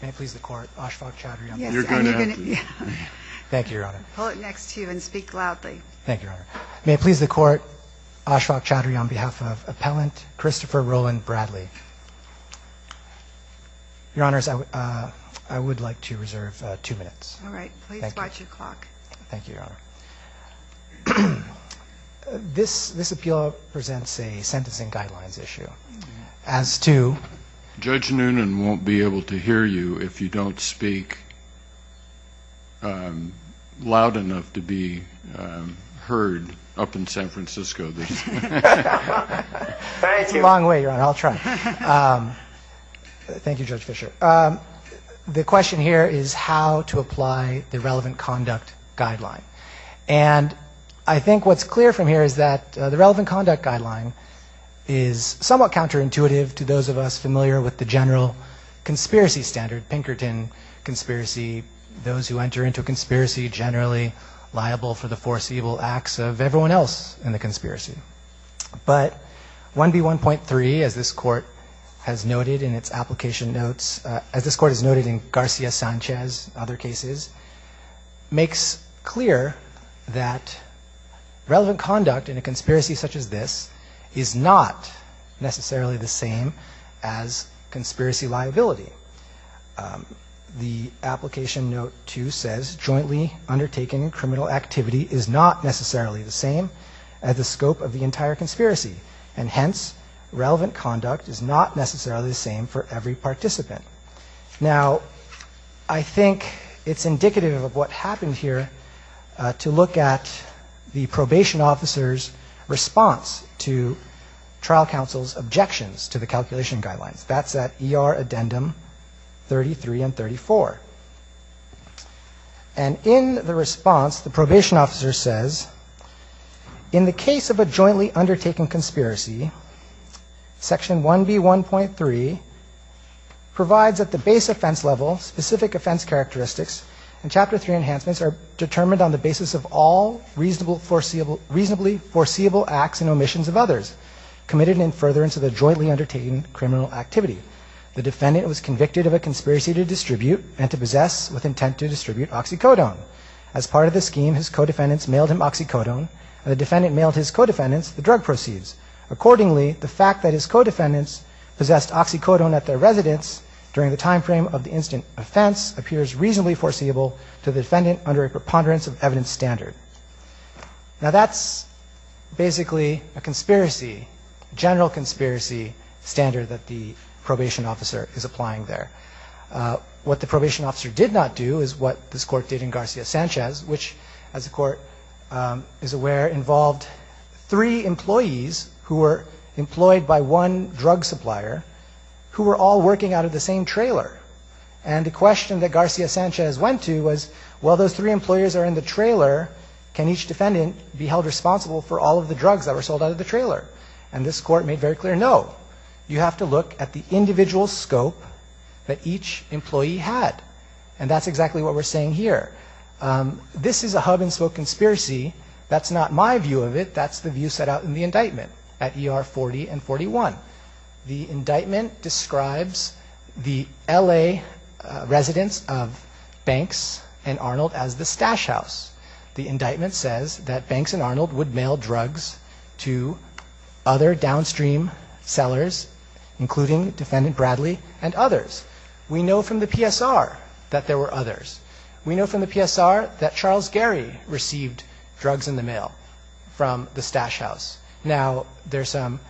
May it please the court, Ashfaq Chowdhury on behalf of appellant Christopher Roland Bradley. Your honors, I would like to reserve two minutes. All right, please watch your clock. Thank you, your honor. This appeal presents a sentencing guidelines issue. As to Judge Noonan won't be able to hear you if you don't speak loud enough to be heard up in San Francisco. Thank you. Long way, your honor. I'll try. Thank you, Judge Fischer. The question here is how to apply the relevant conduct guideline. And I think what's clear from here is that the relevant conduct guideline is somewhat counterintuitive to those of us familiar with the general conspiracy standard, Pinkerton conspiracy, those who enter into a conspiracy generally liable for the foreseeable acts of everyone else in the conspiracy. But 1B1.3 as this court has noted in its application notes, as this court has noted in Garcia Sanchez, other cases, makes clear that relevant conduct in a case is not necessarily the same as conspiracy liability. The application note 2 says jointly undertaken criminal activity is not necessarily the same as the scope of the entire conspiracy. And hence, relevant conduct is not necessarily the same for every participant. Now, I think it's indicative of what happened here to look at the probation officer's response to trial counsel's objections to the calculation guidelines. That's that ER addendum 33 and 34. And in the response, the probation officer says, in the case of a jointly undertaken conspiracy, Section 1B1.3 provides at the base offense level, specific offense characteristics, and Chapter 3 enhancements are determined on the basis of all reasonably foreseeable acts and omissions of others committed in furtherance of the jointly undertaken criminal activity. The defendant was convicted of a conspiracy to distribute and to possess with intent to distribute oxycodone. As part of the scheme, his co-defendants mailed him oxycodone, and the defendant mailed his co-defendants the drug proceeds. Accordingly, the fact that his co-defendants possessed oxycodone at their residence during the time frame of the incident offense appears reasonably foreseeable to the defendant under a preponderance of evidence standard. Now, that's basically a conspiracy, general conspiracy standard that the probation officer is applying there. What the probation officer did not do is what this court did in Garcia Sanchez, which, as the court is aware, involved three employees who were employed by one drug supplier who were all working out of the same trailer. And the question that Garcia Sanchez went to was, while those three employers are in the trailer, can each defendant be held responsible for all of the drugs that were sold out of the trailer? And this court made very clear, no, you have to look at the individual scope that each employee had. And that's exactly what we're saying here. This is a hub-and-spoke conspiracy. That's not my view of it. That's the view set out in the indictment at ER 40 and 41. The indictment describes the L.A. residents of Banks and Arnold as the stash house. The indictment says that Banks and Arnold would mail drugs to other downstream sellers, including Defendant Bradley and others. We know from the PSR that there were others. We know from the PSR that Charles Gary received drugs in the mail from the stash house. Now, there's some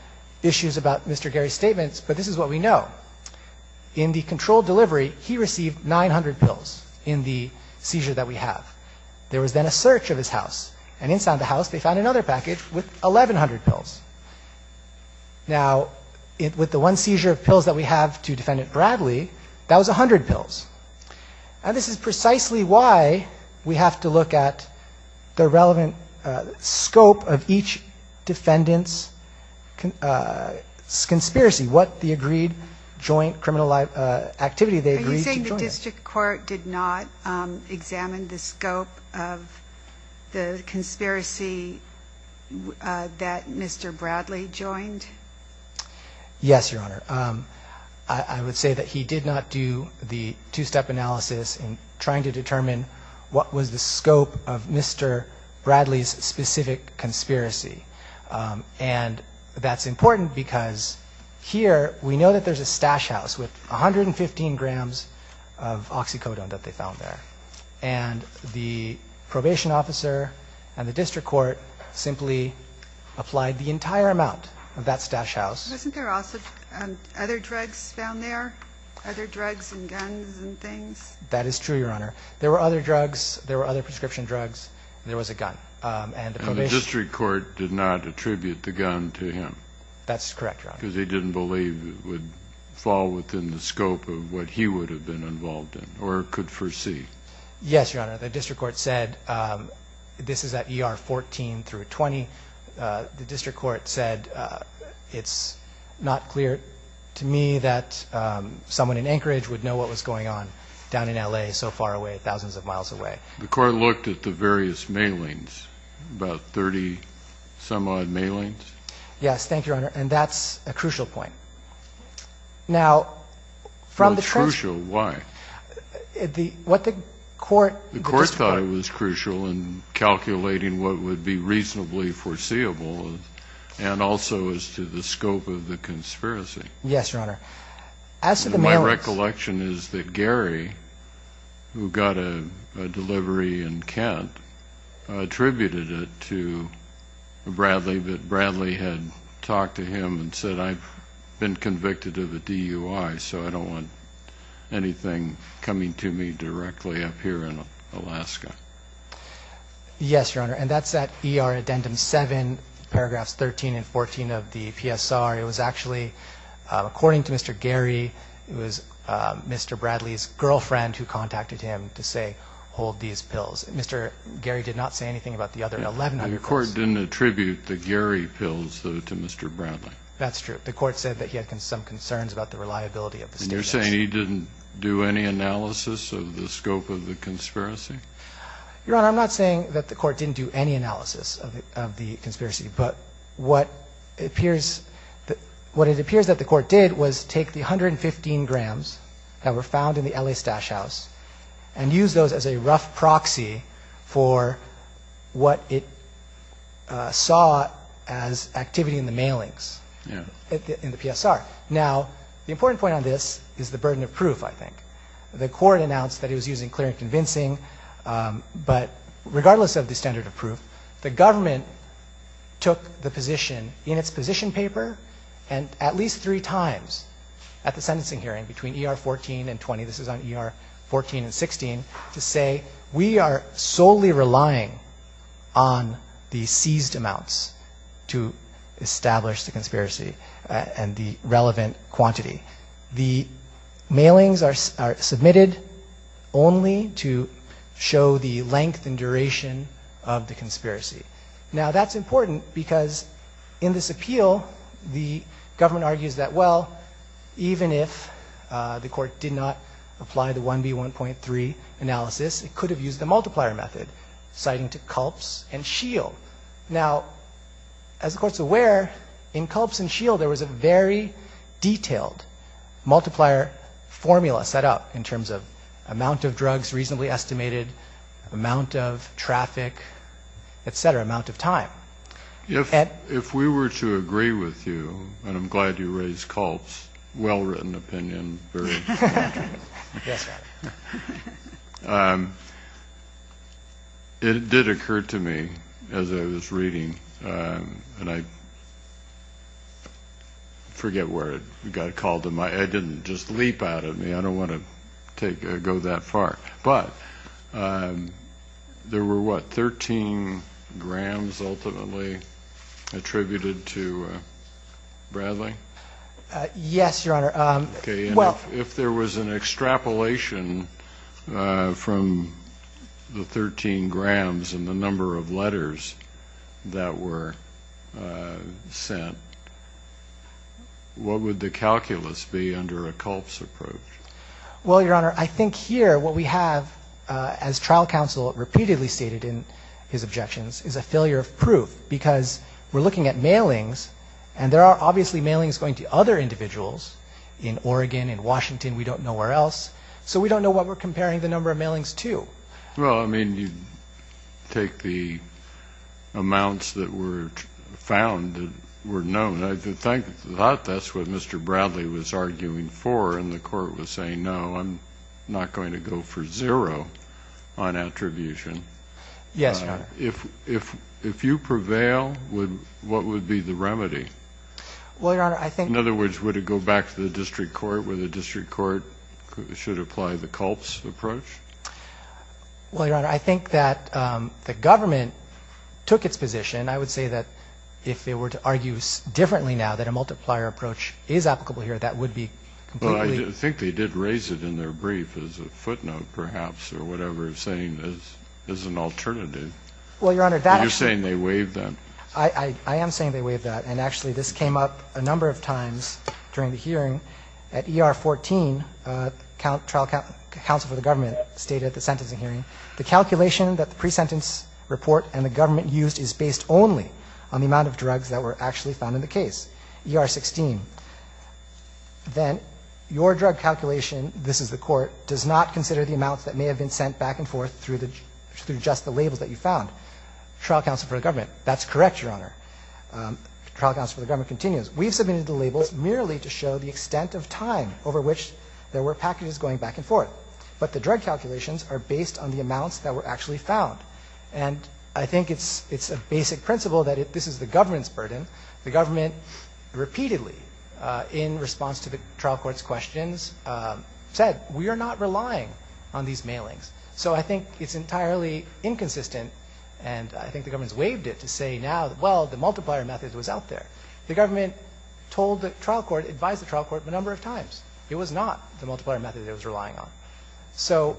issues about Mr. Gary's statements, but this is what we know. In the controlled delivery, he received 900 pills in the seizure that we have. There was then a search of his house. And inside the house, they found another package with 1,100 pills. Now, with the one seizure of pills that we have to This is precisely why we have to look at the relevant scope of each Defendant's conspiracy, what the agreed joint criminal activity they agreed to join. Are you saying the district court did not examine the scope of the conspiracy that Mr. Bradley joined? Yes, Your Honor. I would say that he did not do the two-step analysis in trying to determine what was the scope of Mr. Bradley's specific conspiracy. And that's important because here, we know that there's a stash house with 115 grams of oxycodone that they Wasn't there also other drugs found there? Other drugs and guns and things? That is true, Your Honor. There were other drugs, there were other prescription drugs, and there was a gun. And the district court did not attribute the gun to him? That's correct, Your Honor. Because he didn't believe it would fall within the scope of what he would have been involved in or could foresee? Yes, Your Honor. The district court said, this is at ER 14 through 20, the district court said it's not clear to me that someone in Anchorage would know what was going on down in L.A. so far away, thousands of miles away. The court looked at the various mailings, about 30-some-odd mailings? Yes, thank you, Your Honor. And that's a crucial point. It's crucial? Why? The court thought it was crucial in calculating what would be reasonably foreseeable and also as to the scope of the conspiracy. Yes, Your Honor. My recollection is that Gary, who got a delivery in Kent, attributed it to Bradley, but Bradley had talked to him and said, I've been convicted of a DUI, so I don't want anything coming to me directly up here in Alaska. Yes, Your Honor. And that's at ER Addendum 7, paragraphs 13 and 14 of the PSR. It was actually, according to Mr. Gary, it was Mr. Bradley's girlfriend who contacted him to say, hold these pills. Mr. Gary did not say anything about the other 11 other pills? The court didn't attribute the Gary pills to Mr. Bradley. That's true. The court said that he had some concerns about the reliability of the stipulation. And you're saying he didn't do any analysis of the scope of the conspiracy? Your Honor, I'm not saying that the court didn't do any analysis of the conspiracy, but what it appears that the court did was take the 115 grams that were found in the L.A. Stash House and use those as a rough proxy for what it saw as activity in the mailings in the PSR. Now, the important point on this is the burden of proof, I think. The court announced that it was using clear and convincing, but regardless of the standard of proof, the government took the position in its position paper at least three times at the sentencing hearing between ER 14 and 20, this is on ER 14 and 16, to say we are solely relying on the seized amounts to establish the conspiracy and the relevant quantity. The mailings are submitted only to show the length and duration of the conspiracy. Now, that's important because in this appeal, the government argues that, well, even if the court did not apply the 1B1.3 analysis, it could have used the multiplier method, citing to Culp's and Scheel. Now, as the court's aware, in Culp's and Scheel, there was a very detailed multiplier formula set up in terms of amount of drugs reasonably estimated, amount of traffic, et cetera, amount of time. If we were to agree with you, and I'm glad you raised Culp's well-written opinion, it did occur to me as I was reading, and I forget where it got called to mind, I didn't just leap out at me. I don't want to go that far. But there were, what, 13 grams ultimately attributed to Bradley? Yes, Your Honor. If there was an extrapolation from the 13 grams and the number of letters that were sent, what would the calculus be under a Culp's approach? Well, Your Honor, I think here what we have, as trial counsel repeatedly stated in his objections, is a failure of proof because we're looking at mailings, and there are obviously mailings going to other individuals in Oregon, in Washington, we don't know where else, so we don't know what we're comparing the number of mailings to. Well, I mean, you take the amounts that were found that were known. I think that's what Mr. Bradley was arguing for, and the court was saying, no, I'm not going to go for zero on attribution. Yes, Your Honor. If you prevail, what would be the remedy? Well, Your Honor, I think the... Well, Your Honor, I think that the government took its position. I would say that if they were to argue differently now that a multiplier approach is applicable here, that would be completely... Well, I think they did raise it in their brief as a footnote, perhaps, or whatever, saying it's an alternative. Well, Your Honor, that... You're saying they waived that. I am saying they waived that, and actually this came up a number of times during the hearing. At ER 14, trial counsel for the government stated at the sentencing hearing, the calculation that the pre-sentence report and the government used is based only on the amount of drugs that were actually found in the case, ER 16. Then your drug calculation, this is the court, does not consider the amounts that may have been sent back and forth through just the labels that you found. Trial counsel for the government, that's correct, Your Honor. Trial counsel for the government continues. We've submitted the labels merely to show the extent of time over which there were packages going back and forth. But the drug calculations are based on the amounts that were actually found. And I think it's a basic principle that this is the government's burden. The government repeatedly, in response to the trial court's questions, said we are not relying on these mailings. So I think it's entirely inconsistent, and I think the government's waived it to say now, well, the multiplier method was out there. The government told the trial court, advised the trial court a number of times. It was not the multiplier method it was relying on. So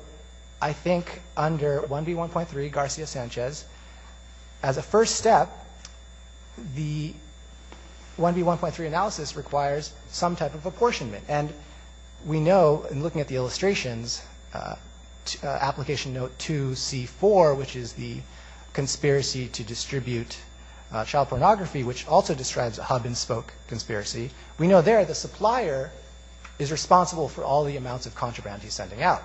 I think under 1B1.3 Garcia-Sanchez, as a first step, the 1B1.3 analysis requires some type of apportionment. And we know, in looking at the illustrations, application note 2C4, which is the conspiracy to distribute child pornography, which also describes a hub-and-spoke conspiracy, we know there the supplier is responsible for all the amounts of contraband he's sending out.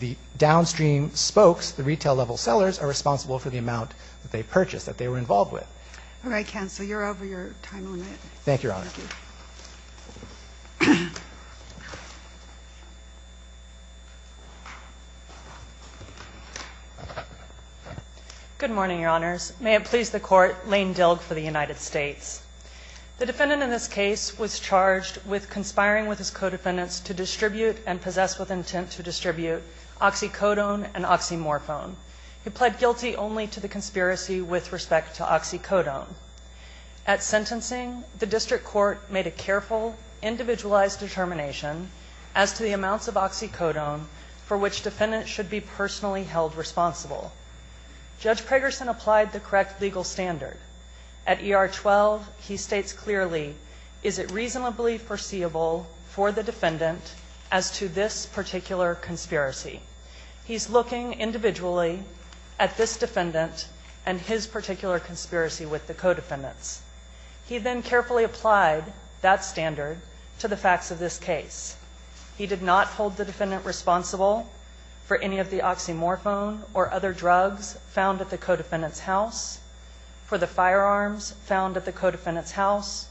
The downstream spokes, the retail-level sellers, are responsible for the amount that they purchased, that they were involved with. All right, counsel. You're over your time limit. Thank you, Your Honor. Thank you. Good morning, Your Honors. May it please the Court, Lane Dilg for the United States. The defendant in this case was charged with conspiring with his co-defendants to distribute and possess with intent to distribute oxycodone and oxymorphone. He pled guilty only to the conspiracy with respect to oxycodone. At sentencing, the district court made a careful, individualized determination as to the amounts of oxycodone for which defendants should be personally held responsible. Judge Pragerson applied the correct legal standard. At ER 12, he states clearly, is it reasonably foreseeable for the defendant as to this particular conspiracy? He's looking individually at this defendant and his particular conspiracy with the co-defendants. He then carefully applied that standard to the facts of this case. He did not hold the defendant responsible for any of the oxymorphone or other drugs found at the co-defendant's house, for the firearms found at the co-defendant's house,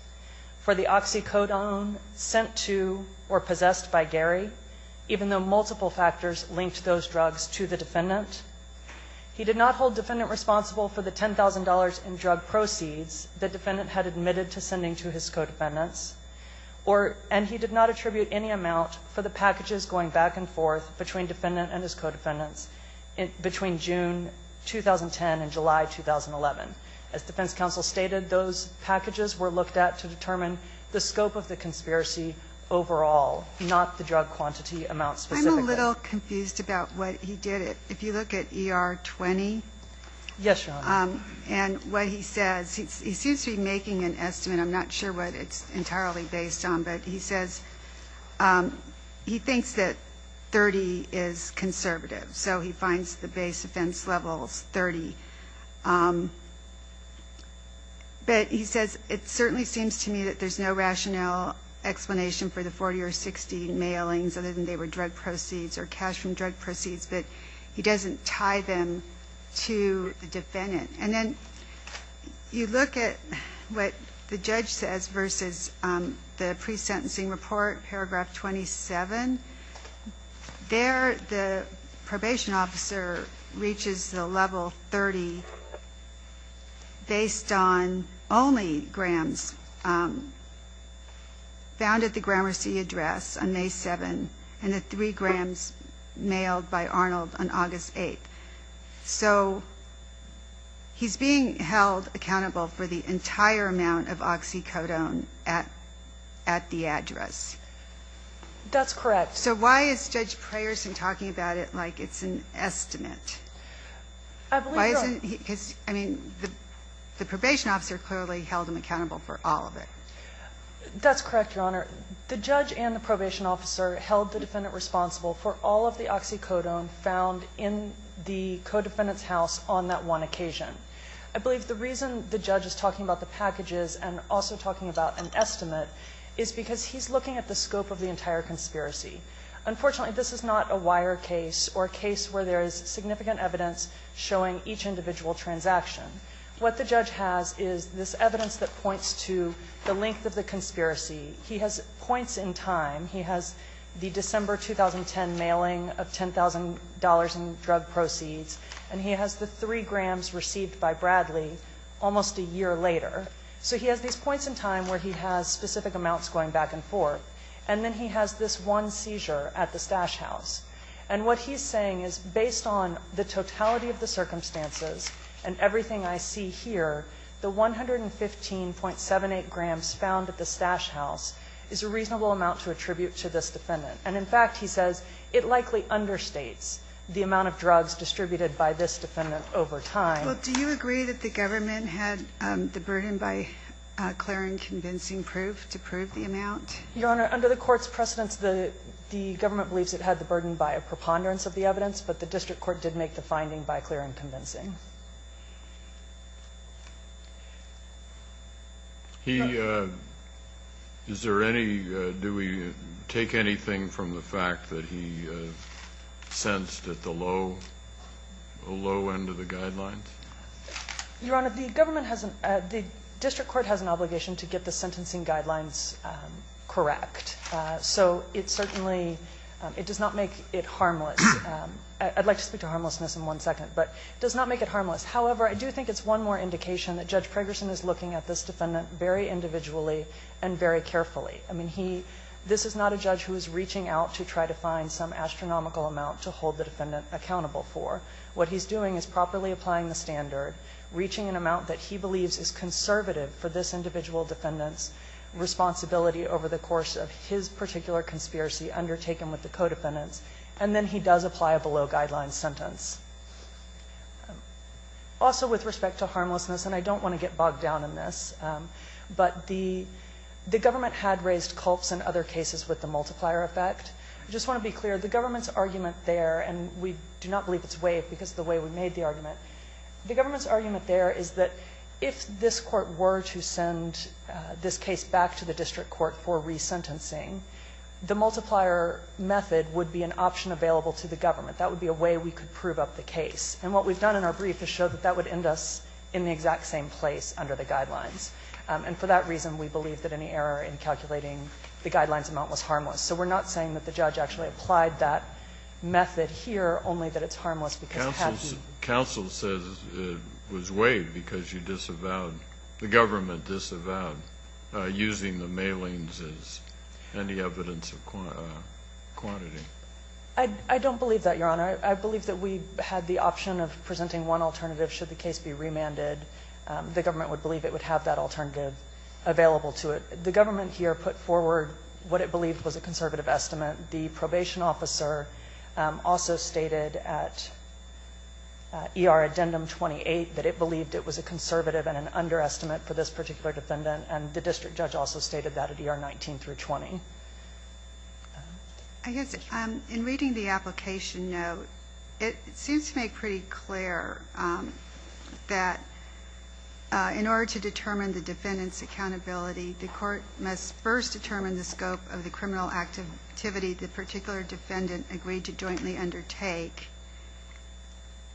for the oxycodone sent to or possessed by Gary, even though multiple factors linked those drugs to the defendant. He did not hold defendant responsible for the $10,000 in drug proceeds the defendant had admitted to sending to his co-defendants, and he did not attribute any amount for the packages going back and forth between defendant and his co-defendants between June 2010 and July 2011. As defense counsel stated, those packages were looked at to determine the scope of the conspiracy overall, not the drug quantity amount specifically. I'm a little confused about what he did. If you look at ER 20 and what he says, he seems to be making an estimate. I'm not sure what it's entirely based on, but he says he thinks that 30 is conservative, so he finds the base offense levels 30. But he says it certainly seems to me that there's no rationale explanation for the 40 or 60 mailings, other than they were drug proceeds or cash from drug proceeds, but he doesn't tie them to the defendant. And then you look at what the judge says versus the pre-sentencing report, paragraph 27. There the probation officer reaches the level 30 based on only grams found at the Gramercy address on May 7, and the three grams mailed by Arnold on August 8. So he's being held accountable for the entire amount of oxycodone at the address. That's correct. So why is Judge Prayerson talking about it like it's an estimate? I believe you're on. I mean, the probation officer clearly held him accountable for all of it. That's correct, Your Honor. The judge and the probation officer held the defendant responsible for all of the oxycodone found in the co-defendant's house on that one occasion. I believe the reason the judge is talking about the packages and also talking about an estimate is because he's looking at the scope of the entire conspiracy. Unfortunately, this is not a wire case or a case where there is significant evidence showing each individual transaction. What the judge has is this evidence that points to the length of the conspiracy. He has points in time. He has the December 2010 mailing of $10,000 in drug proceeds, and he has the three grams received by Bradley almost a year later. So he has these points in time where he has specific amounts going back and forth, and then he has this one seizure at the stash house. And what he's saying is, based on the totality of the circumstances and everything I see here, the 115.78 grams found at the stash house is a reasonable amount to attribute to this defendant. And in fact, he says, it likely understates the amount of drugs distributed by this defendant over time. Well, do you agree that the government had the burden by clearing convincing proof to prove the amount? Your Honor, under the court's precedence, the government believes it had the burden by a preponderance of the evidence, but the district court did make the finding by clearing convincing. Is there any, do we take anything from the fact that he sentenced at the low end of the guidelines? Your Honor, the district court has an obligation to get the sentencing guidelines correct. So it certainly, it does not make it harmless. I'd like to speak to harmlessness in one second, but it does not make it harmless. However, I do think it's one more indication that Judge Pragerson is looking at this defendant very individually and very carefully. I mean, he, this is not a judge who is reaching out to try to find some astronomical amount to hold the defendant accountable for. What he's doing is properly applying the standard, reaching an amount that he believes is conservative for this individual defendant's responsibility over the course of his particular conspiracy undertaken with the co-defendants, and then he does apply a below-guidelines sentence. Also, with respect to harmlessness, and I don't want to get bogged down in this, but the government had raised culps in other cases with the multiplier effect. I just want to be clear, the government's argument there, the government's argument there is that if this Court were to send this case back to the district court for resentencing, the multiplier method would be an option available to the government. That would be a way we could prove up the case. And what we've done in our brief is show that that would end us in the exact same place under the guidelines. And for that reason, we believe that any error in calculating the guidelines amount was harmless. So we're not saying that the judge actually applied that method here, only that it's harmless. Counsel says it was waived because you disavowed, the government disavowed using the mailings as any evidence of quantity. I don't believe that, Your Honor. I believe that we had the option of presenting one alternative should the case be remanded. The government would believe it would have that alternative available to it. The government here put forward what it believed was a conservative estimate. The probation officer also stated at ER Addendum 28 that it believed it was a conservative and an underestimate for this particular defendant. And the district judge also stated that at ER 19 through 20. I guess in reading the application note, it seems to make pretty clear that in order to determine the defendant's accountability, the court must first determine the scope of the criminal activity the particular defendant agreed to jointly undertake.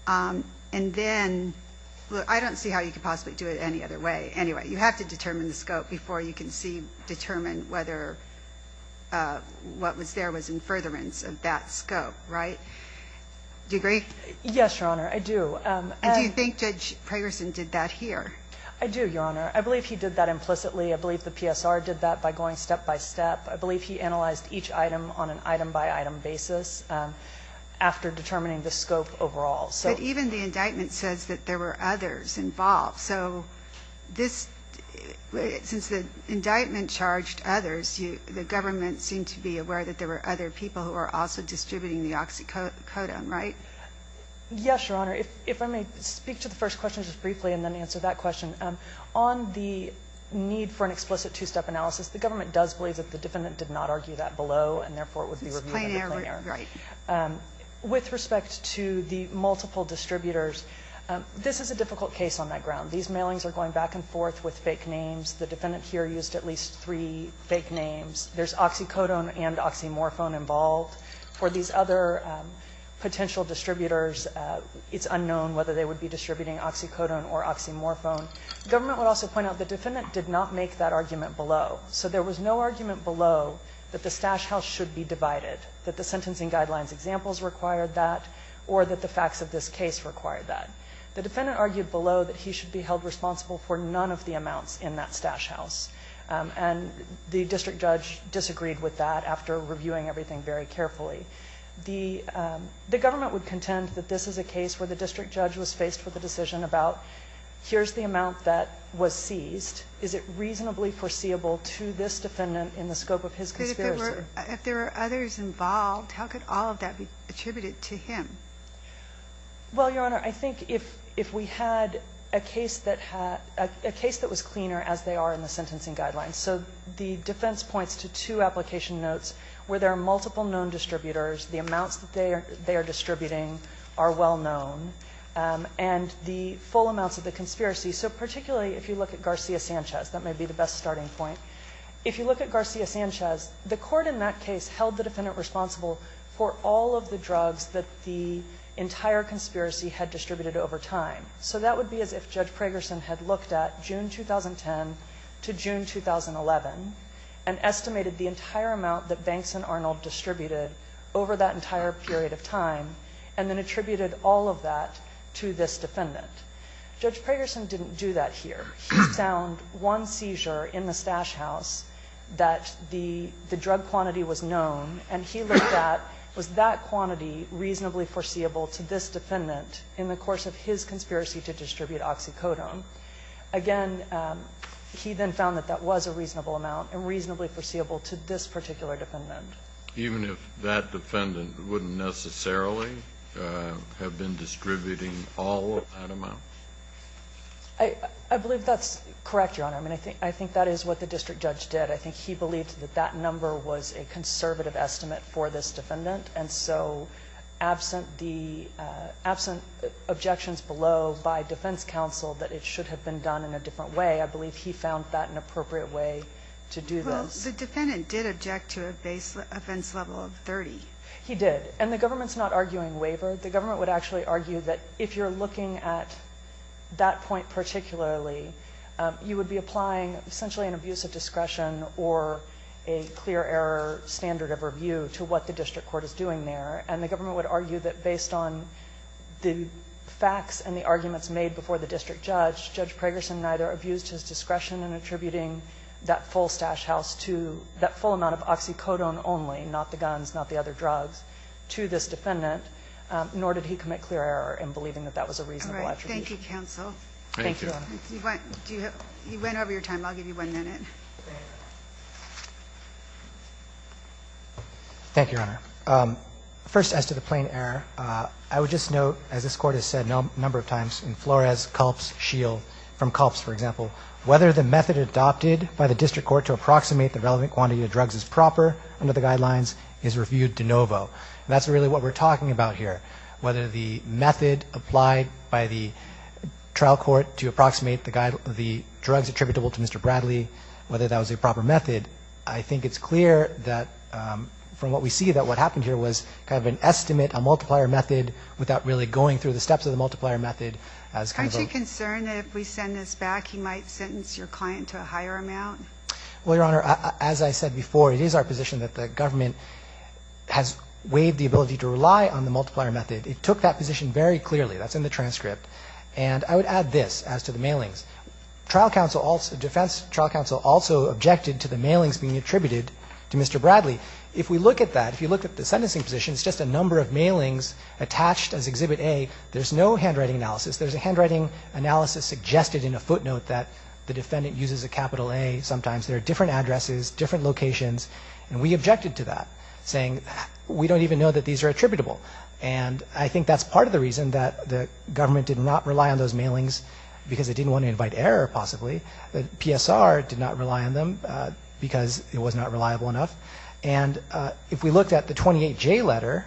And then, I don't see how you could possibly do it any other way. Anyway, you have to determine the scope before you can see, determine whether what was there was in furtherance of that scope. Right? Do you agree? Yes, Your Honor. I do. And do you think Judge Pragerson did that here? I do, Your Honor. I believe he did that implicitly. I believe the PSR did that by going step-by-step. I believe he analyzed each item on an item-by-item basis after determining the scope overall. But even the indictment says that there were others involved. So since the indictment charged others, the government seemed to be aware that there were other people who were also distributing the oxycodone, right? Yes, Your Honor. If I may speak to the first question just briefly and then answer that question. On the need for an explicit two-step analysis, the government does believe that the defendant did not argue that below, and therefore it would be reviewed under plain error. Right. With respect to the multiple distributors, this is a difficult case on that ground. These mailings are going back and forth with fake names. The defendant here used at least three fake names. There's oxycodone and oxymorphone involved. For these other potential distributors, it's unknown whether they would be distributing oxycodone or oxymorphone. The government would also point out the defendant did not make that argument below. So there was no argument below that the stash house should be divided, that the sentencing guidelines examples required that, or that the facts of this case required that. The defendant argued below that he should be held responsible for none of the amounts in that stash house. And the district judge disagreed with that after reviewing everything very carefully. The government would contend that this is a case where the district judge was house. Now, if this is the amount that was seized, is it reasonably foreseeable to this defendant in the scope of his conspiracy? If there were others involved, how could all of that be attributed to him? Well, Your Honor, I think if we had a case that had, a case that was cleaner as they are in the sentencing guidelines. So the defense points to two application notes where there are multiple known distributors. The amounts that they are distributing are well known. And the full amounts of the conspiracy. So particularly if you look at Garcia Sanchez, that may be the best starting point. If you look at Garcia Sanchez, the court in that case held the defendant responsible for all of the drugs that the entire conspiracy had distributed over time. So that would be as if Judge Pragerson had looked at June 2010 to June 2011 and estimated the entire amount that Banks and Arnold distributed over that entire period of time and then attributed all of that to this defendant. Judge Pragerson didn't do that here. He found one seizure in the stash house that the drug quantity was known, and he looked at was that quantity reasonably foreseeable to this defendant in the course of his conspiracy to distribute oxycodone. Again, he then found that that was a reasonable amount and reasonably foreseeable to this particular defendant. Even if that defendant wouldn't necessarily have been distributing all of that amount? I believe that's correct, Your Honor. I mean, I think that is what the district judge did. I think he believed that that number was a conservative estimate for this defendant. And so absent the objections below by defense counsel that it should have been done in a different way, I believe he found that an appropriate way to do this. Well, the defendant did object to a base offense level of 30. He did. And the government's not arguing waiver. The government would actually argue that if you're looking at that point particularly, you would be applying essentially an abuse of discretion or a clear error standard of review to what the district court is doing there. And the government would argue that based on the facts and the arguments made before the district judge, Judge Pragerson neither abused his discretion in attributing that full stash house to that full amount of oxycodone only, not the guns, not the other drugs, to this defendant, nor did he commit clear error in believing that that was a reasonable attribute. All right. Thank you, counsel. Thank you. You went over your time. I'll give you one minute. Thank you, Your Honor. First, as to the plain error, I would just note, as this Court has said a number of times in Flores, Culp's, Scheel, from Culp's, for example, whether the method adopted by the district court to approximate the relevant quantity of drugs is proper under the guidelines is reviewed de novo. And that's really what we're talking about here, whether the method applied by the trial court to approximate the drugs attributable to Mr. Bradley is proper, whether that was a proper method. I think it's clear that from what we see that what happened here was kind of an estimate, a multiplier method without really going through the steps of the multiplier method. Aren't you concerned that if we send this back, he might sentence your client to a higher amount? Well, Your Honor, as I said before, it is our position that the government has waived the ability to rely on the multiplier method. It took that position very clearly. That's in the transcript. And I would add this as to the mailings. Trial counsel also, defense trial counsel also objected to the mailings being attributed to Mr. Bradley. If we look at that, if you look at the sentencing position, it's just a number of mailings attached as Exhibit A. There's no handwriting analysis. There's a handwriting analysis suggested in a footnote that the defendant uses a capital A sometimes. There are different addresses, different locations. And we objected to that, saying we don't even know that these are attributable. And I think that's part of the reason that the government did not rely on those possibly. The PSR did not rely on them because it was not reliable enough. And if we looked at the 28J letter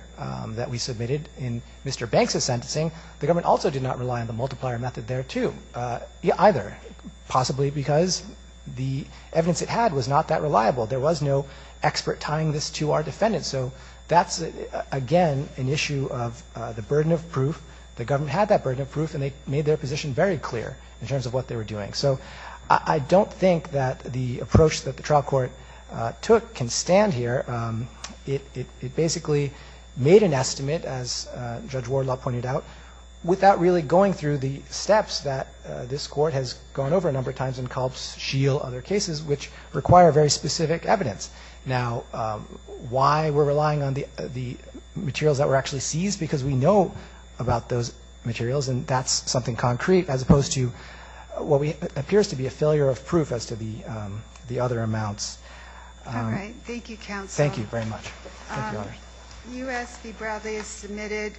that we submitted in Mr. Banks' sentencing, the government also did not rely on the multiplier method there, too, either, possibly because the evidence it had was not that reliable. There was no expert tying this to our defendant. So that's, again, an issue of the burden of proof. The government had that burden of proof, and they made their position very clear in terms of what they were doing. So I don't think that the approach that the trial court took can stand here. It basically made an estimate, as Judge Wardlaw pointed out, without really going through the steps that this court has gone over a number of times in Kolb's, Scheel, other cases, which require very specific evidence. Now, why we're relying on the materials that were actually seized? Because we know about those materials, and that's something concrete, as opposed to what appears to be a failure of proof as to the other amounts. All right. Thank you, counsel. Thank you very much. Thank you, Your Honor. U.S. v. Bradley is submitted.